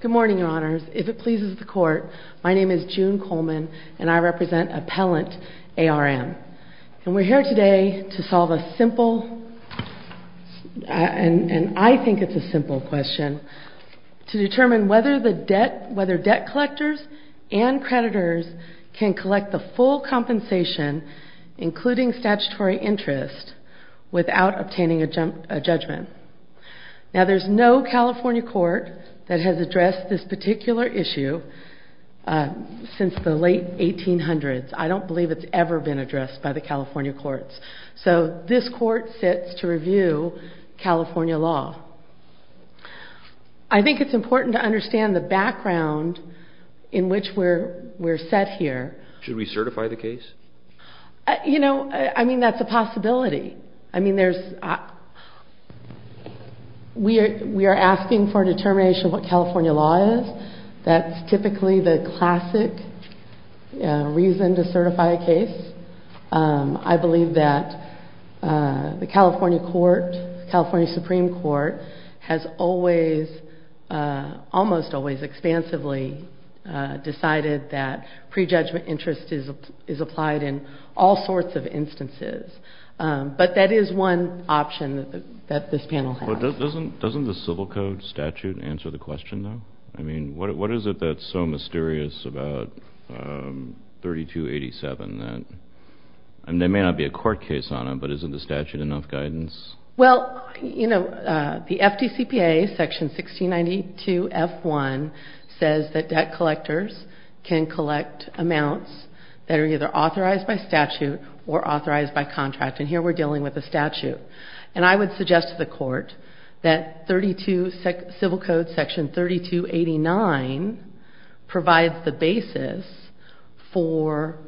Good morning, Your Honors. If it pleases the Court, my name is June Coleman, and I represent Appellant A.R.M. We're here today to solve a simple, and I think it's a simple question, to determine whether debt collectors and creditors can collect the full compensation, including statutory interest, without obtaining a judgment. Now, there's no California court that has addressed this particular issue since the late 1800s. I don't believe it's ever been addressed by the California courts. So this court sits to review California law. I think it's important to understand the background in which we're set here. Should we certify the case? You know, I mean, that's a possibility. I mean, there's, we are asking for a determination of what California law is. That's typically the classic reason to certify a case. I believe that the California court, California Supreme Court, has always, almost always expansively decided that prejudgment interest is applied in all sorts of instances. But that is one option that this panel has. Doesn't the Civil Code statute answer the question, though? I mean, what is it that's so mysterious about 3287 that, and there may not be a court case on it, but isn't the statute enough guidance? Well, you know, the FDCPA section 1692 F1 says that debt collectors can collect amounts that are either authorized by statute or authorized by contract. And here we're dealing with a statute. And I would suggest to the court that 32, Civil Code section 3289 provides the basis for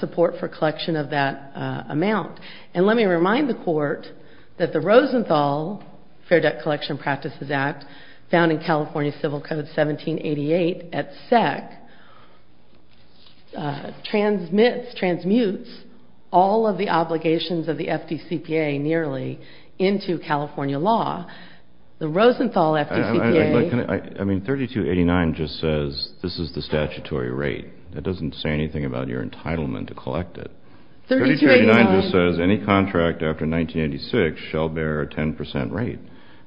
support for collection of that amount. And let me remind the court that the Rosenthal Fair Debt Collection Practices Act, found in California Civil Code 1788 at SEC, transmits, transmutes, all of the obligations of the FDCPA nearly into California law. The Rosenthal FDCPA. I mean, 3289 just says this is the statutory rate. It doesn't say anything about your entitlement to collect it. 3289 just says any contract after 1986 shall bear a 10% rate.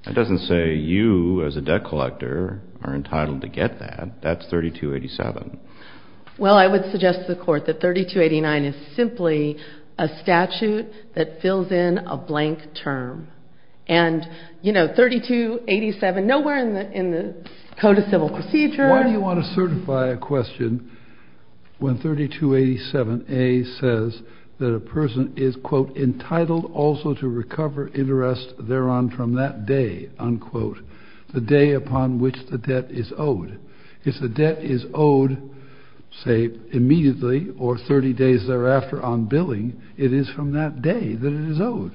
It doesn't say you as a debt collector are entitled to get that. That's 3287. Well, I would suggest to the court that 3289 is simply a statute that fills in a blank term. And, you know, 3287, nowhere in the Code of Civil Procedure. Why do you want to certify a question when 3287A says that a person is, quote, entitled also to recover interest thereon from that day, unquote, the day upon which the debt is owed. If the debt is owed, say, immediately or 30 days thereafter on billing, it is from that day that it is owed.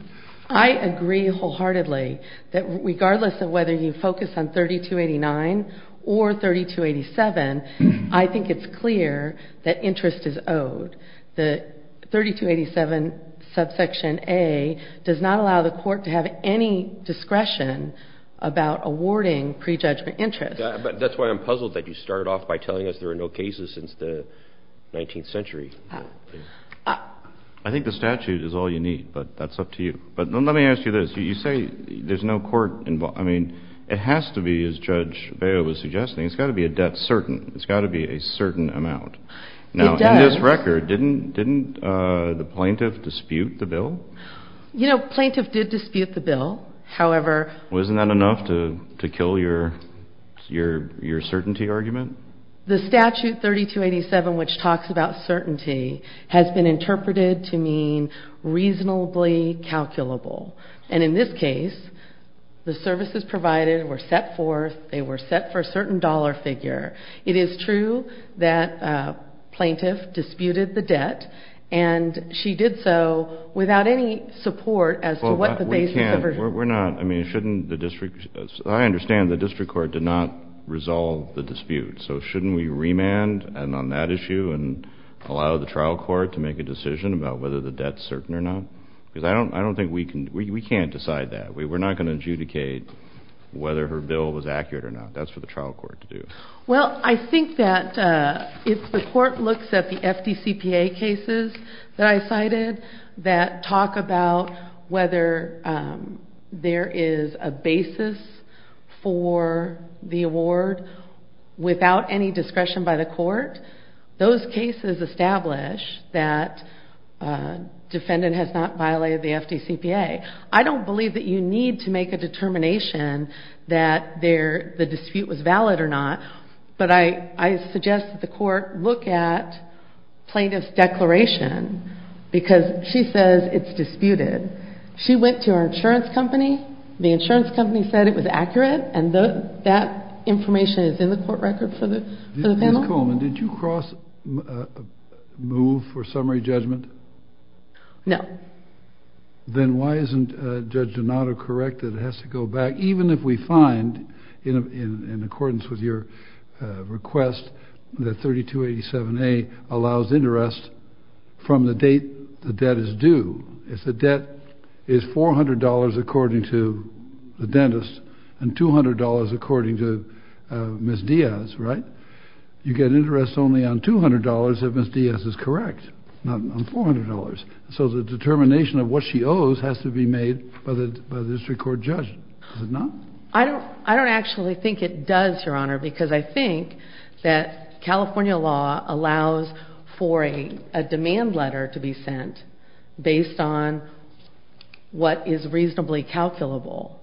I agree wholeheartedly that regardless of whether you focus on 3289 or 3287, I think it's clear that interest is owed. The 3287 subsection A does not allow the court to have any discretion about awarding prejudgment interest. That's why I'm puzzled that you started off by telling us there are no cases since the 19th century. I think the statute is all you need, but that's up to you. But let me ask you this. You say there's no court involved. I mean, it has to be, as Judge Vail was suggesting, it's got to be a debt certain. It's got to be a certain amount. It does. Now, in this record, didn't the plaintiff dispute the bill? You know, plaintiff did dispute the bill. However — Well, isn't that enough to kill your certainty argument? The statute 3287, which talks about certainty, has been interpreted to mean reasonably calculable. And in this case, the services provided were set forth, they were set for a certain dollar figure. It is true that a plaintiff disputed the debt, and she did so without any support as to what the basis of her — We're not — I mean, shouldn't the district — I understand the district court did not So shouldn't we remand on that issue and allow the trial court to make a decision about whether the debt's certain or not? Because I don't think we can — we can't decide that. We're not going to adjudicate whether her bill was accurate or not. That's for the trial court to do. Well, I think that if the court looks at the FDCPA cases that I cited that talk about whether there is a basis for the award without any discretion by the court, those cases establish that defendant has not violated the FDCPA. I don't believe that you need to make a determination that the dispute was valid or not, but I suggest that the court look at plaintiff's declaration because she says it's disputed. She went to her insurance company. The insurance company said it was accurate, and that information is in the court record for the panel. Ms. Coleman, did you cross — move for summary judgment? No. Then why isn't Judge Donato correct that it has to go back, even if we find, in accordance with your request, that 3287A allows interest from the date the debt is due? If the debt is $400, according to the dentist, and $200, according to Ms. Diaz, right? You get interest only on $200 if Ms. Diaz is correct, not on $400. So the determination of what she owes has to be made by the district court judge. Is it not? I don't actually think it does, Your Honor, because I think that California law allows for a demand letter to be sent based on what is reasonably calculable.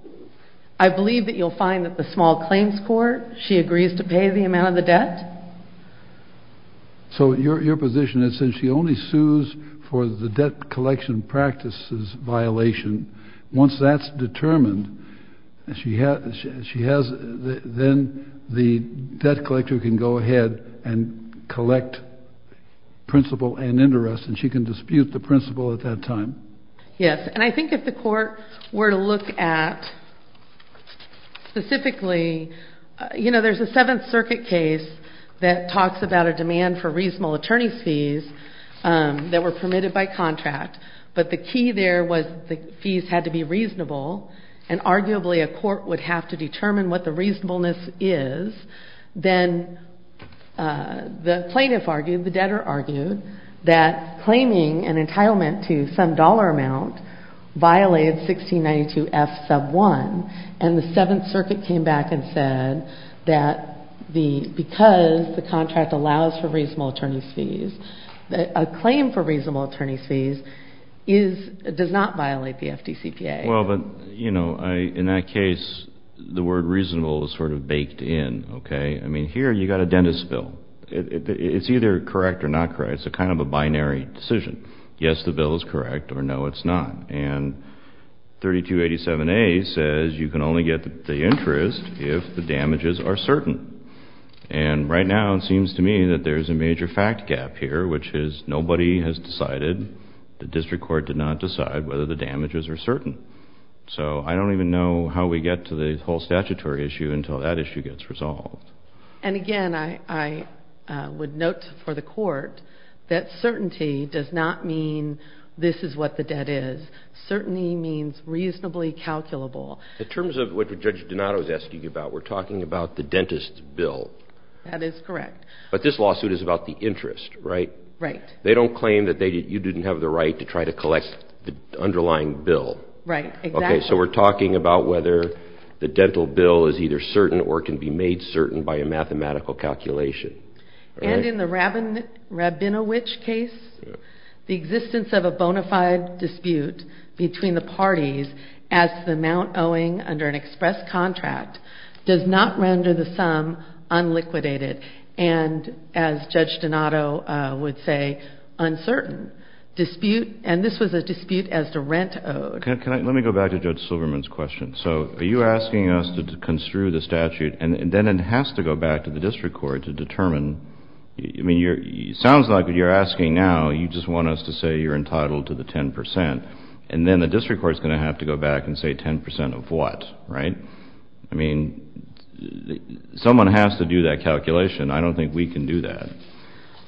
I believe that you'll find that the small claims court, she agrees to pay the amount of the debt. So your position is that she only sues for the debt collection practice's violation. Once that's determined, she has — then the debt collector can go ahead and collect principle and interest, and she can dispute the principle at that time. Yes. And I think if the court were to look at specifically — you know, there's a Seventh Circuit case that talks about a demand for reasonable attorney's fees that were fees had to be reasonable, and arguably a court would have to determine what the reasonableness is, then the plaintiff argued, the debtor argued, that claiming an entitlement to some dollar amount violated 1692F sub 1. And the Seventh Circuit came back and said that because the contract allows for reasonable attorney's fees, a claim for reasonable attorney's fees does not violate the FDCPA. Well, but, you know, in that case, the word reasonable is sort of baked in, okay? I mean, here you've got a dentist's bill. It's either correct or not correct. It's a kind of a binary decision. Yes, the bill is correct, or no, it's not. And 3287A says you can only get the interest if the damages are certain. And right now, it seems to me that there's a major fact gap here, which is nobody has decided, the district court did not decide, whether the damages are certain. So I don't even know how we get to the whole statutory issue until that issue gets resolved. And again, I would note for the court that certainty does not mean this is what the debt is. Certainty means reasonably calculable. In terms of what Judge Donato is asking about, we're talking about the dentist's bill. That is correct. But this lawsuit is about the interest, right? Right. They don't claim that you didn't have the right to try to collect the underlying bill. Right, exactly. Okay, so we're talking about whether the dental bill is either certain or can be made certain by a mathematical calculation. And in the Rabinowitch case, the existence of a bona fide dispute between the parties as the amount owing under an express contract does not render the sum unliquidated and, as Judge Donato would say, uncertain. And this was a dispute as to rent owed. Let me go back to Judge Silverman's question. So are you asking us to construe the statute and then it has to go back to the district court to determine? It sounds like what you're asking now, you just want us to say you're entitled to the 10%. And then the district court is going to have to go back and say 10% of what, right? I mean, someone has to do that calculation. I don't think we can do that.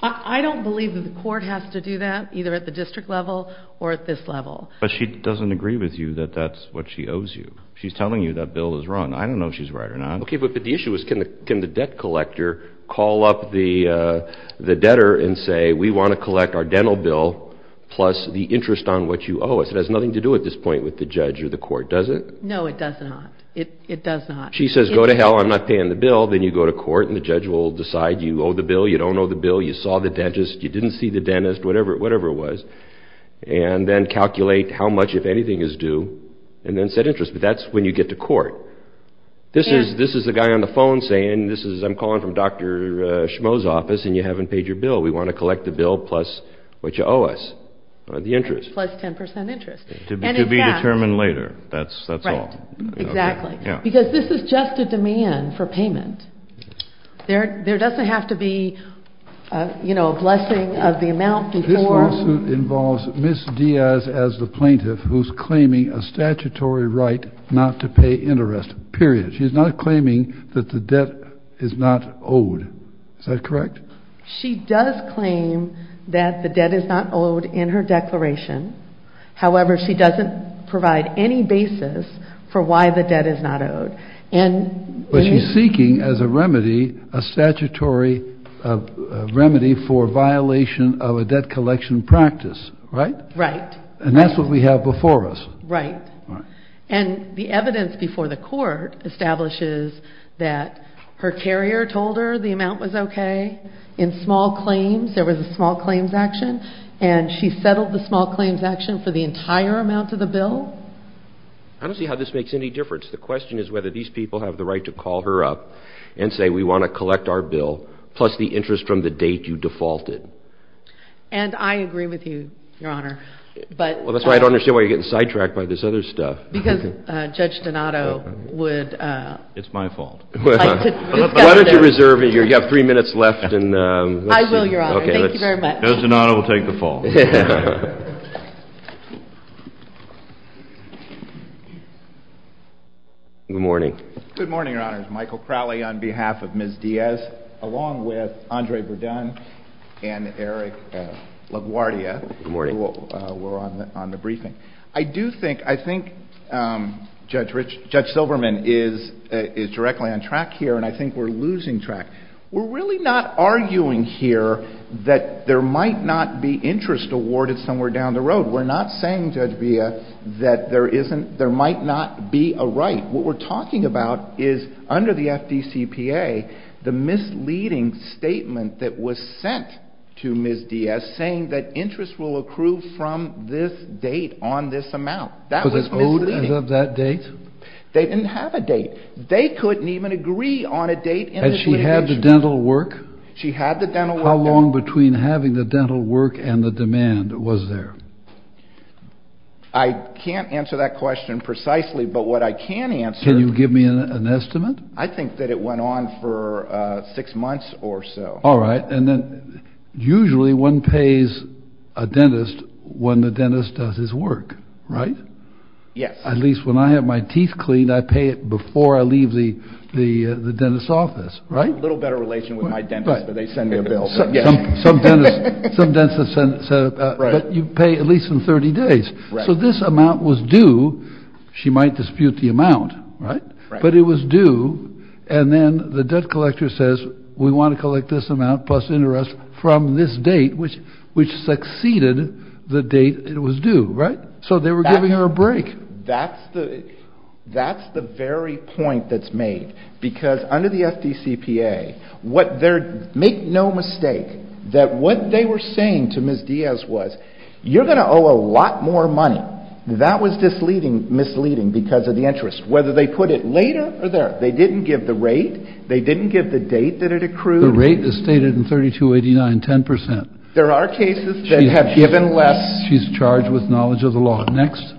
I don't believe that the court has to do that, either at the district level or at this level. But she doesn't agree with you that that's what she owes you. She's telling you that bill is wrong. I don't know if she's right or not. Okay, but the issue is, can the debt collector call up the debtor and say, we want to collect our dental bill plus the interest on what you owe us? It has nothing to do at this point with the judge or the court, does it? No, it does not. It does not. She says, go to hell, I'm not paying the bill. Then you go to court and the judge will decide you owe the bill, you don't owe the bill, you saw the dentist, you didn't see the dentist, whatever it was, and then calculate how much, if anything, is due and then set interest. But that's when you get to court. This is the guy on the phone saying, I'm calling from Dr. Schmoe's office and you haven't paid your bill, we want to collect the bill plus what you owe us, the interest. Plus 10% interest. To be determined later, that's all. Right, exactly. Because this is just a demand for payment. There doesn't have to be a blessing of the amount before. This lawsuit involves Ms. Diaz as the plaintiff who's claiming a statutory right not to pay interest, period. She's not claiming that the debt is not owed. Is that correct? She does claim that the debt is not owed in her declaration. However, she doesn't provide any basis for why the debt is not owed. But she's seeking as a remedy, a statutory remedy for violation of a debt collection practice, right? Right. And that's what we have before us. Right. And the evidence before the court establishes that her carrier told her the amount was okay, in small claims, there was a small claims action, and she settled the small claims action for the entire amount of the bill. I don't see how this makes any difference. The question is whether these people have the right to call her up and say, we want to collect our bill plus the interest from the date you defaulted. And I agree with you, Your Honor. Well, that's why I don't understand why you're getting sidetracked by this other stuff. Because Judge Donato would... It's my fault. Why don't you reserve it? You have three minutes left. I will, Your Honor. Thank you very much. Judge Donato will take the fall. Good morning. Good morning, Your Honors. Michael Crowley on behalf of Ms. Diaz, along with Andrei Burdan and Eric LaGuardia, who were on the briefing. Good morning. I do think Judge Silverman is directly on track here, and I think we're losing track. We're really not arguing here that there might not be interest awarded somewhere down the road. We're not saying, Judge Villa, that there might not be a right. What we're talking about is, under the FDCPA, the misleading statement that was sent to Ms. Diaz saying that interest will accrue from this date on this amount. Was it owed as of that date? They didn't have a date. They couldn't even agree on a date. Had she had the dental work? She had the dental work. How long between having the dental work and the demand was there? I can't answer that question precisely, but what I can answer... Can you give me an estimate? I think that it went on for six months or so. All right, and then usually one pays a dentist when the dentist does his work, right? Yes. At least when I have my teeth cleaned, I pay it before I leave the dentist's office, right? A little better relation with my dentist, but they send me a bill. Some dentists send... but you pay at least in 30 days. So this amount was due. She might dispute the amount, right? But it was due, and then the debt collector says, we want to collect this amount plus interest from this date, which succeeded the date it was due, right? So they were giving her a break. That's the very point that's made, because under the FDCPA, make no mistake that what they were saying to Ms. Diaz was, you're going to owe a lot more money. That was misleading because of the interest. Whether they put it later or there, they didn't give the rate, they didn't give the date that it accrued. The rate is stated in 3289, 10%. There are cases that have given less. She's charged with knowledge of the law. Next.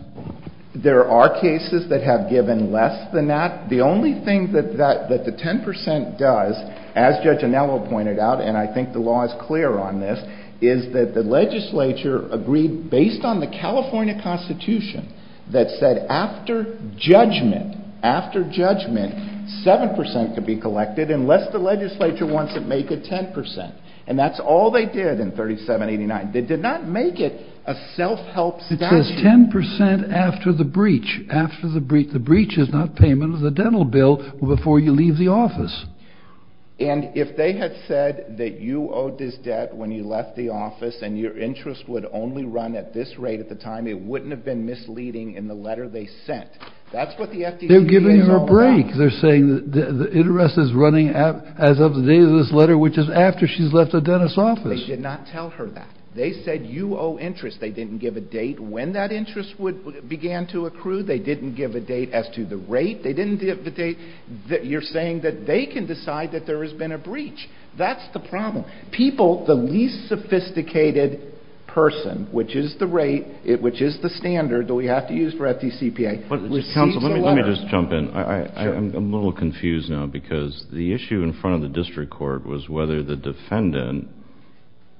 There are cases that have given less than that. The only thing that the 10% does, as Judge Anello pointed out, and I think the law is clear on this, is that the legislature agreed based on the California Constitution that said after judgment, after judgment, 7% could be collected unless the legislature wants to make it 10%. And that's all they did in 3789. They did not make it a self-help statute. It says 10% after the breach. The breach is not payment of the dental bill before you leave the office. And if they had said that you owed this debt when you left the office and your interest would only run at this rate at the time, it wouldn't have been misleading in the letter they sent. They're giving her a break. They're saying the interest is running as of the date of this letter, which is after she's left the dentist's office. They did not tell her that. They said you owe interest. They didn't give a date when that interest began to accrue. They didn't give a date as to the rate. You're saying that they can decide that there has been a breach. That's the problem. People, the least sophisticated person, which is the rate, which is the standard that we have to use for FDCPA, receives the letter. Let me just jump in. I'm a little confused now because the issue in front of the district court was whether the defendant,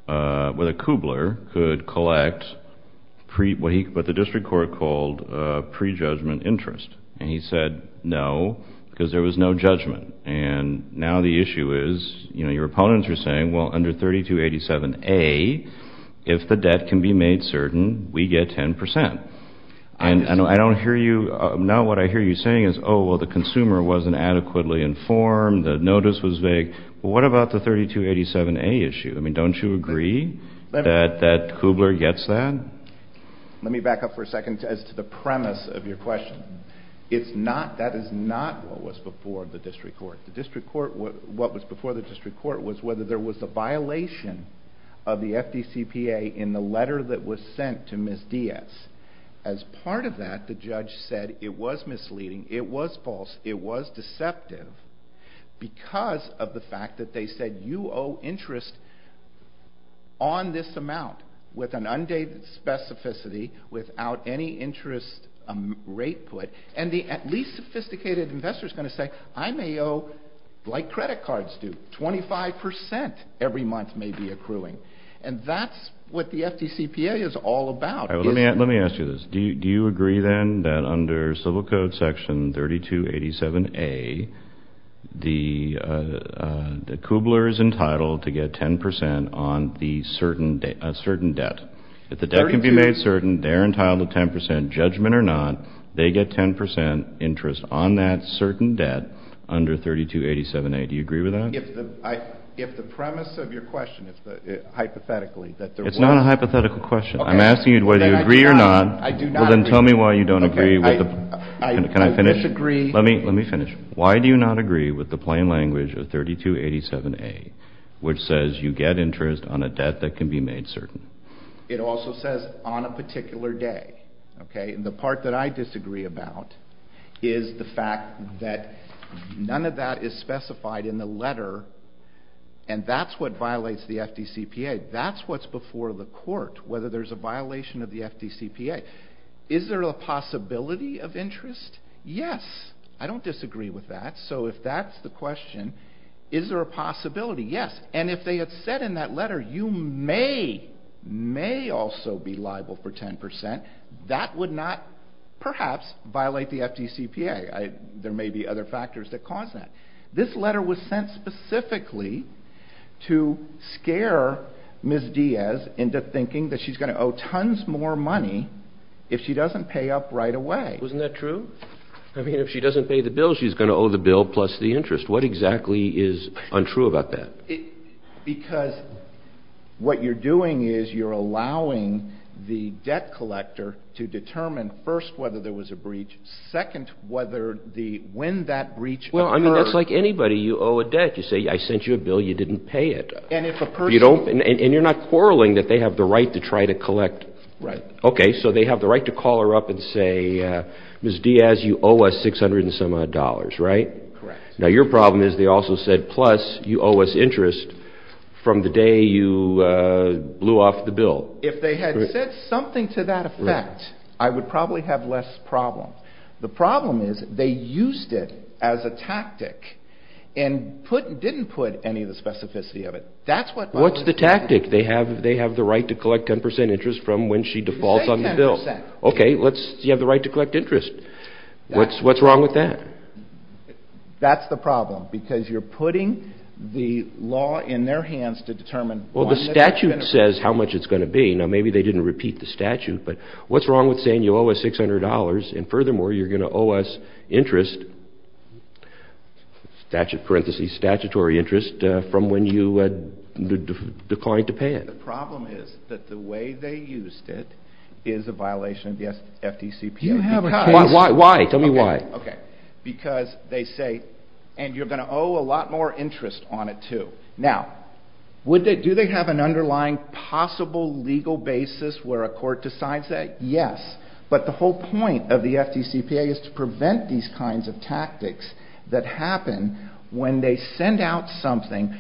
whether Kubler, could collect what the district court called pre-judgment interest. And he said no because there was no judgment. And now the issue is your opponents are saying, well, under 3287A, if the debt can be made certain, we get 10%. And I don't hear you. Now what I hear you saying is, oh, well, the consumer wasn't adequately informed. The notice was vague. Well, what about the 3287A issue? I mean, don't you agree that Kubler gets that? Let me back up for a second as to the premise of your question. It's not, that is not what was before the district court. The district court, what was before the district court was whether there was a violation of the FDCPA in the letter that was sent to Ms. Diaz. As part of that, the judge said it was misleading, it was false, it was deceptive because of the fact that they said you owe interest on this amount with an undated specificity without any interest rate put. And the least sophisticated investor is going to say, well, I may owe, like credit cards do, 25% every month may be accruing. And that's what the FDCPA is all about. Let me ask you this. Do you agree then that under Civil Code section 3287A, that Kubler is entitled to get 10% on a certain debt? If the debt can be made certain, they're entitled to 10%. Judgment or not, they get 10% interest on that certain debt under 3287A. Do you agree with that? If the premise of your question, hypothetically... It's not a hypothetical question. I'm asking you whether you agree or not. Then tell me why you don't agree. Can I finish? Let me finish. Why do you not agree with the plain language of 3287A, which says you get interest on a debt that can be made certain? It also says on a particular day. The part that I disagree about is the fact that none of that is specified in the letter and that's what violates the FDCPA. That's what's before the court, whether there's a violation of the FDCPA. Is there a possibility of interest? Yes. I don't disagree with that. So if that's the question, is there a possibility? Yes. And if they had said in that letter, you may, may also be liable for 10%, that would not, perhaps, violate the FDCPA. There may be other factors that cause that. This letter was sent specifically to scare Ms. Diaz into thinking that she's going to owe tons more money if she doesn't pay up right away. Isn't that true? I mean, if she doesn't pay the bill, she's going to owe the bill plus the interest. What exactly is untrue about that? Because what you're doing is you're allowing the debt collector to determine, first, whether there was a breach, second, whether the, when that breach occurred. Well, I mean, that's like anybody. You owe a debt. You say, I sent you a bill, you didn't pay it. And if a person... And you're not quarreling that they have the right to try to collect... Right. Okay, so they have the right to call her up and say, Ms. Diaz, you owe us 600 and some odd dollars, right? Correct. Now, your problem is they also said, plus you owe us interest from the day you blew off the bill. If they had said something to that effect, I would probably have less problem. The problem is they used it as a tactic and didn't put any of the specificity of it. That's what... What's the tactic? They have the right to collect 10% interest from when she defaults on the bill. You say 10%. Okay, let's, you have the right to collect interest. What's wrong with that? That's the problem, because you're putting the law in their hands to determine... Well, the statute says how much it's going to be. Now, maybe they didn't repeat the statute, but what's wrong with saying you owe us $600 and furthermore, you're going to owe us interest, statute parentheses, statutory interest, from when you declined to pay it? The problem is that the way they used it is a violation of the FDCPA. Why? Tell me why. Because they say, and you're going to owe a lot more interest on it, too. Now, do they have an underlying possible legal basis where a court decides that? Yes, but the whole point of the FDCPA is to prevent these kinds of tactics that happen when they send out something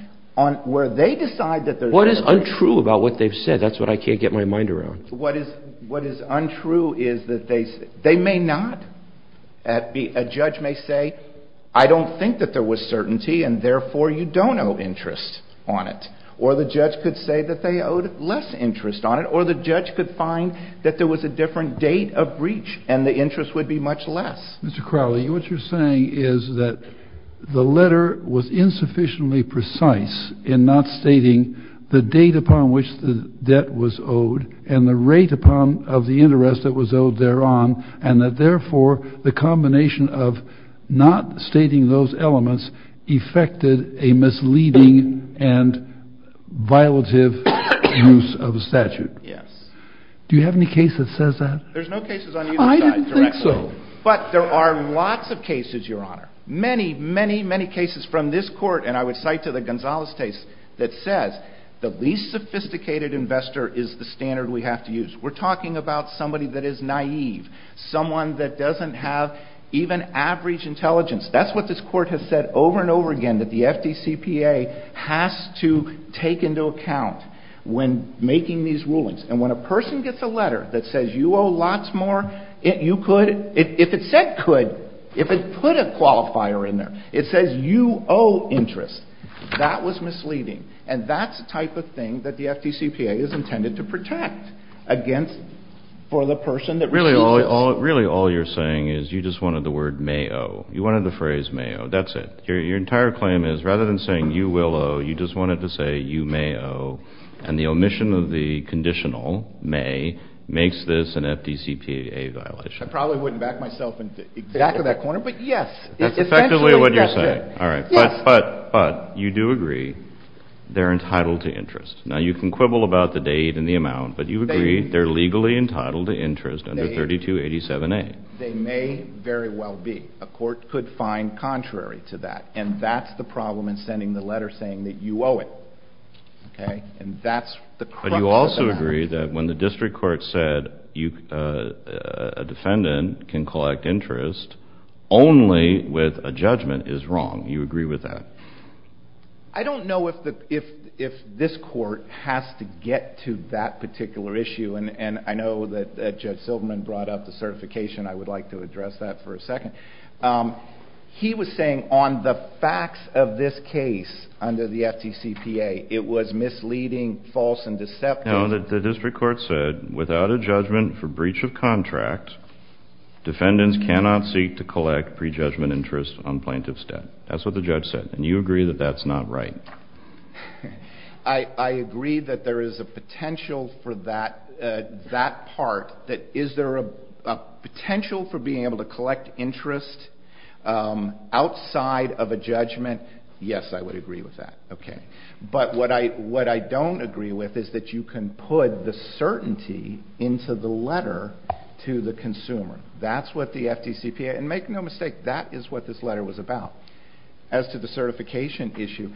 where they decide that... What is untrue about what they've said? That's what I can't get my mind around. What is untrue is that they... A judge may say, I don't think that there was certainty and therefore you don't owe interest on it. Or the judge could say that they owed less interest on it. Or the judge could find that there was a different date of breach and the interest would be much less. Mr. Crowley, what you're saying is that the letter was insufficiently precise in not stating the date upon which the debt was owed and the rate of the interest that was owed thereon and that therefore the combination of not stating those elements effected a misleading and violative use of a statute. Yes. Do you have any case that says that? There's no cases on either side. I didn't think so. But there are lots of cases, Your Honor. Many, many, many cases from this court and I would cite to the Gonzales case that says the least sophisticated investor is the standard we have to use. We're talking about somebody that is naive, someone that doesn't have even average intelligence. That's what this court has said over and over again that the FDCPA has to take into account when making these rulings. And when a person gets a letter that says you owe lots more, you could, if it said could, if it put a qualifier in there, it says you owe interest, that was misleading. And that's the type of thing that the FDCPA is intended to protect against for the person that received it. Really all you're saying is you just wanted the word may owe. You wanted the phrase may owe. That's it. Your entire claim is rather than saying you will owe, you just wanted to say you may owe. And the omission of the conditional may makes this an FDCPA violation. I probably wouldn't back myself back to that corner, but yes. That's effectively what you're saying. Yes. But you do agree they're entitled to interest. Now you can quibble about the date and the amount, but you agree they're legally entitled to interest under 3287A. They may very well be. A court could find contrary to that. And that's the problem in sending the letter saying that you owe it. Okay? And that's the crux of the matter. But you also agree that when the district court said a defendant can collect interest, only with a judgment is wrong. You agree with that? I don't know if this court has to get to that particular issue. And I know that Judge Silverman brought up the certification. I would like to address that for a second. He was saying on the facts of this case under the FDCPA, it was misleading, false, and deceptive. No, the district court said without a judgment for breach of contract, defendants cannot seek to collect pre-judgment interest on plaintiff's debt. That's what the judge said. And you agree that that's not right? I agree that there is a potential for that part. Is there a potential for being able to collect interest outside of a judgment? Yes, I would agree with that. But what I don't agree with is that you can put the certainty into the letter to the consumer. That's what the FDCPA, and make no mistake, that is what this letter was about as to the certification issue.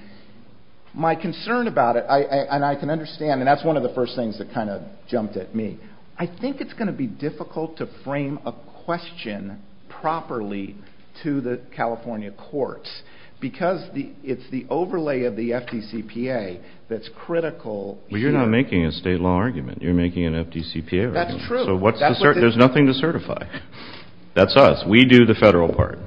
My concern about it, and I can understand, and that's one of the first things that kind of jumped at me, I think it's going to be difficult to frame a question properly to the California courts because it's the overlay of the FDCPA that's critical here. Well, you're not making a state law argument. You're making an FDCPA argument. That's true. So there's nothing to certify. That's us. We do the federal part,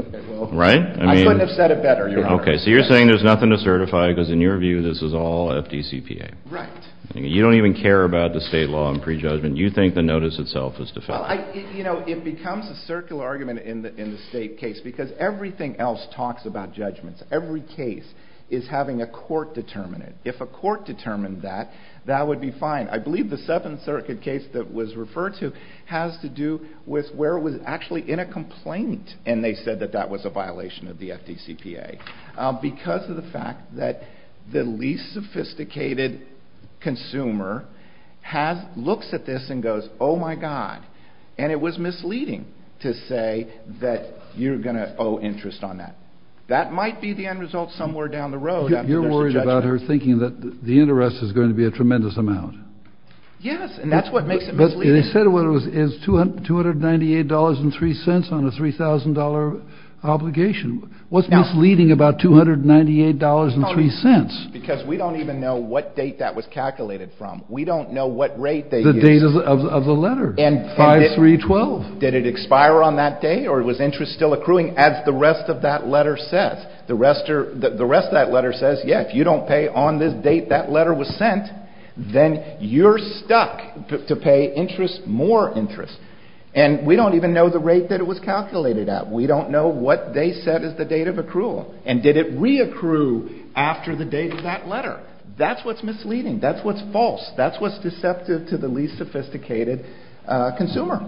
right? I wouldn't have said it better, Your Honor. So you're saying there's nothing to certify because in your view this is all FDCPA. Right. You don't even care about the state law and prejudgment. You think the notice itself is to federal. It becomes a circular argument in the state case because everything else talks about judgments. Every case is having a court determine it. If a court determined that, that would be fine. I believe the Seventh Circuit case that was referred to has to do with where it was actually in a complaint and they said that that was a violation of the FDCPA because of the fact that the least sophisticated consumer looks at this and goes, oh my God, and it was misleading to say that you're going to owe interest on that. That might be the end result somewhere down the road. You're worried about her thinking that the interest is going to be a tremendous amount. Yes, and that's what makes it misleading. They said it was $298.03 on a $3,000 obligation. What's misleading about $298.03? Because we don't even know what date that was calculated from. We don't know what rate they used. The date of the letter. 5-3-12. Did it expire on that day? Or was interest still accruing? As the rest of that letter says. The rest of that letter says, yeah, if you don't pay on this date that letter was sent, then you're stuck to pay interest, more interest. And we don't even know the rate that it was calculated at. We don't know what they said is the date of accrual. And did it re-accrue after the date of that letter? That's what's misleading. That's what's false. That's what's deceptive to the least sophisticated consumer.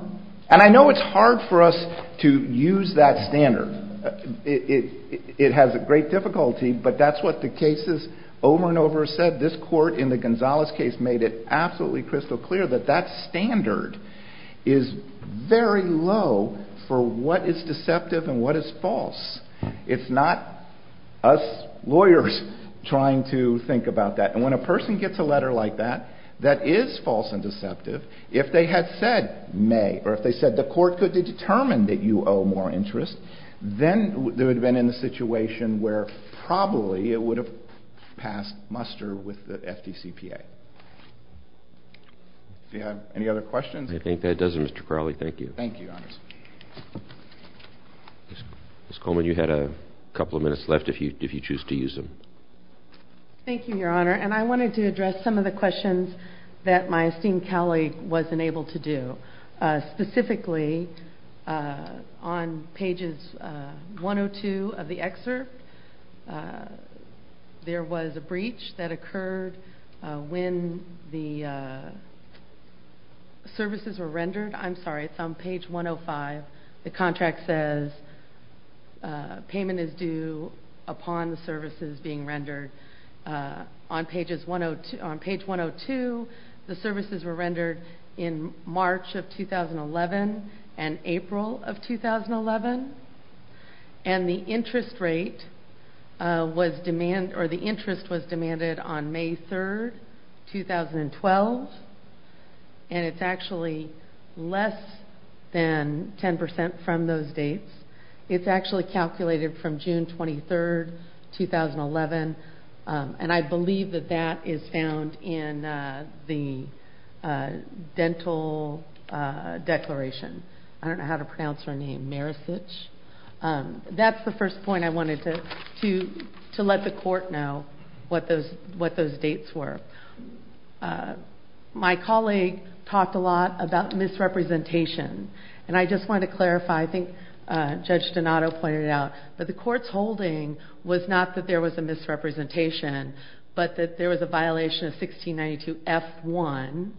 And I know it's hard for us to use that standard. It has a great difficulty, but that's what the cases over and over said. This court in the Gonzalez case made it absolutely crystal clear that that standard is very low for what is deceptive and what is false. It's not us lawyers trying to think about that. And when a person gets a letter like that that is false and deceptive, if they had said may, or if they said the court could determine that you owe more interest, then they would have been in a situation where probably it would have passed muster with the FDCPA. Do you have any other questions? I think that does it, Mr. Crowley. Thank you. Thank you, Your Honor. Ms. Coleman, you had a couple of minutes left if you choose to use them. Thank you, Your Honor. And I wanted to address some of the questions that my esteemed colleague wasn't able to do. Specifically, on pages 102 of the excerpt, there was a breach that occurred when the services were rendered. I'm sorry, it's on page 105. The contract says payment is due upon the services being rendered. On page 102, the services were rendered in March of 2011 and April of 2011. And the interest rate was demanded on May 3, 2012. And it's actually less than 10% from those dates. It's actually calculated from June 23, 2011. And I believe that that is found in the dental declaration. I don't know how to pronounce her name. That's the first point I wanted to let the Court know what those dates were. My colleague talked a lot about misrepresentation. And I just wanted to clarify I think Judge Donato pointed out that the Court's holding was not that there was a misrepresentation but that there was a violation of 1692 F1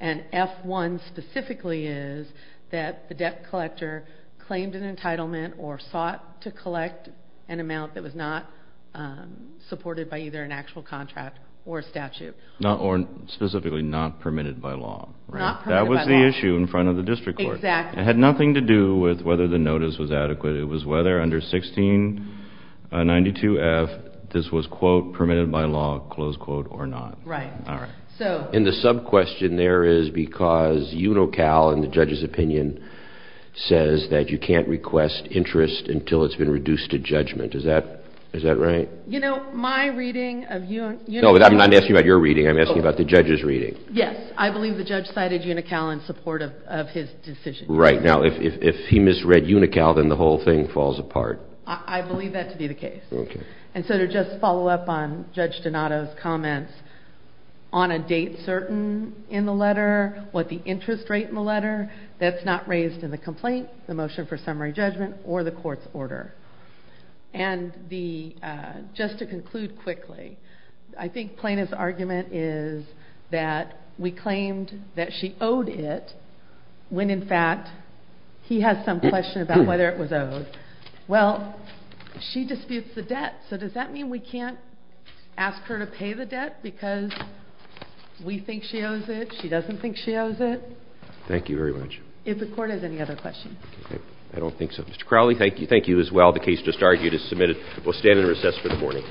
and F1 specifically is that the debt collector claimed an entitlement or sought to collect an amount that was not supported by either an actual contract or statute. Specifically, not permitted by law. That was the issue in front of the District Court. It had nothing to do with whether the notice was adequate. It was whether under 1692 F this was, quote, permitted by law, close quote, or not. Right. And the sub-question there is because UNICAL in the Judge's opinion says that you can't request interest until it's been reduced to judgment. Is that right? You know, my reading of UNICAL No, I'm not asking about your reading. I'm asking about the Judge's reading. Yes. I believe the Judge cited UNICAL in support of his decision. Right. Now, if he misread UNICAL then the whole thing falls apart. I believe that to be the case. And so to just follow up on Judge Donato's comments on a date certain in the letter, what the interest rate in the letter, that's not raised in the complaint, the motion for summary judgment, or the Court's order. And the just to conclude quickly I think Plaintiff's argument is that we claimed that she owed it when in fact he has some question about whether it was owed. Well, she disputes the debt, so does that mean we can't ask her to pay the debt because we think she owes it? She doesn't think she owes it? Thank you very much. If the Court has any other questions. I don't think so. Mr. Crowley, thank you as well. The case just argued is submitted. We'll stand in recess for the morning.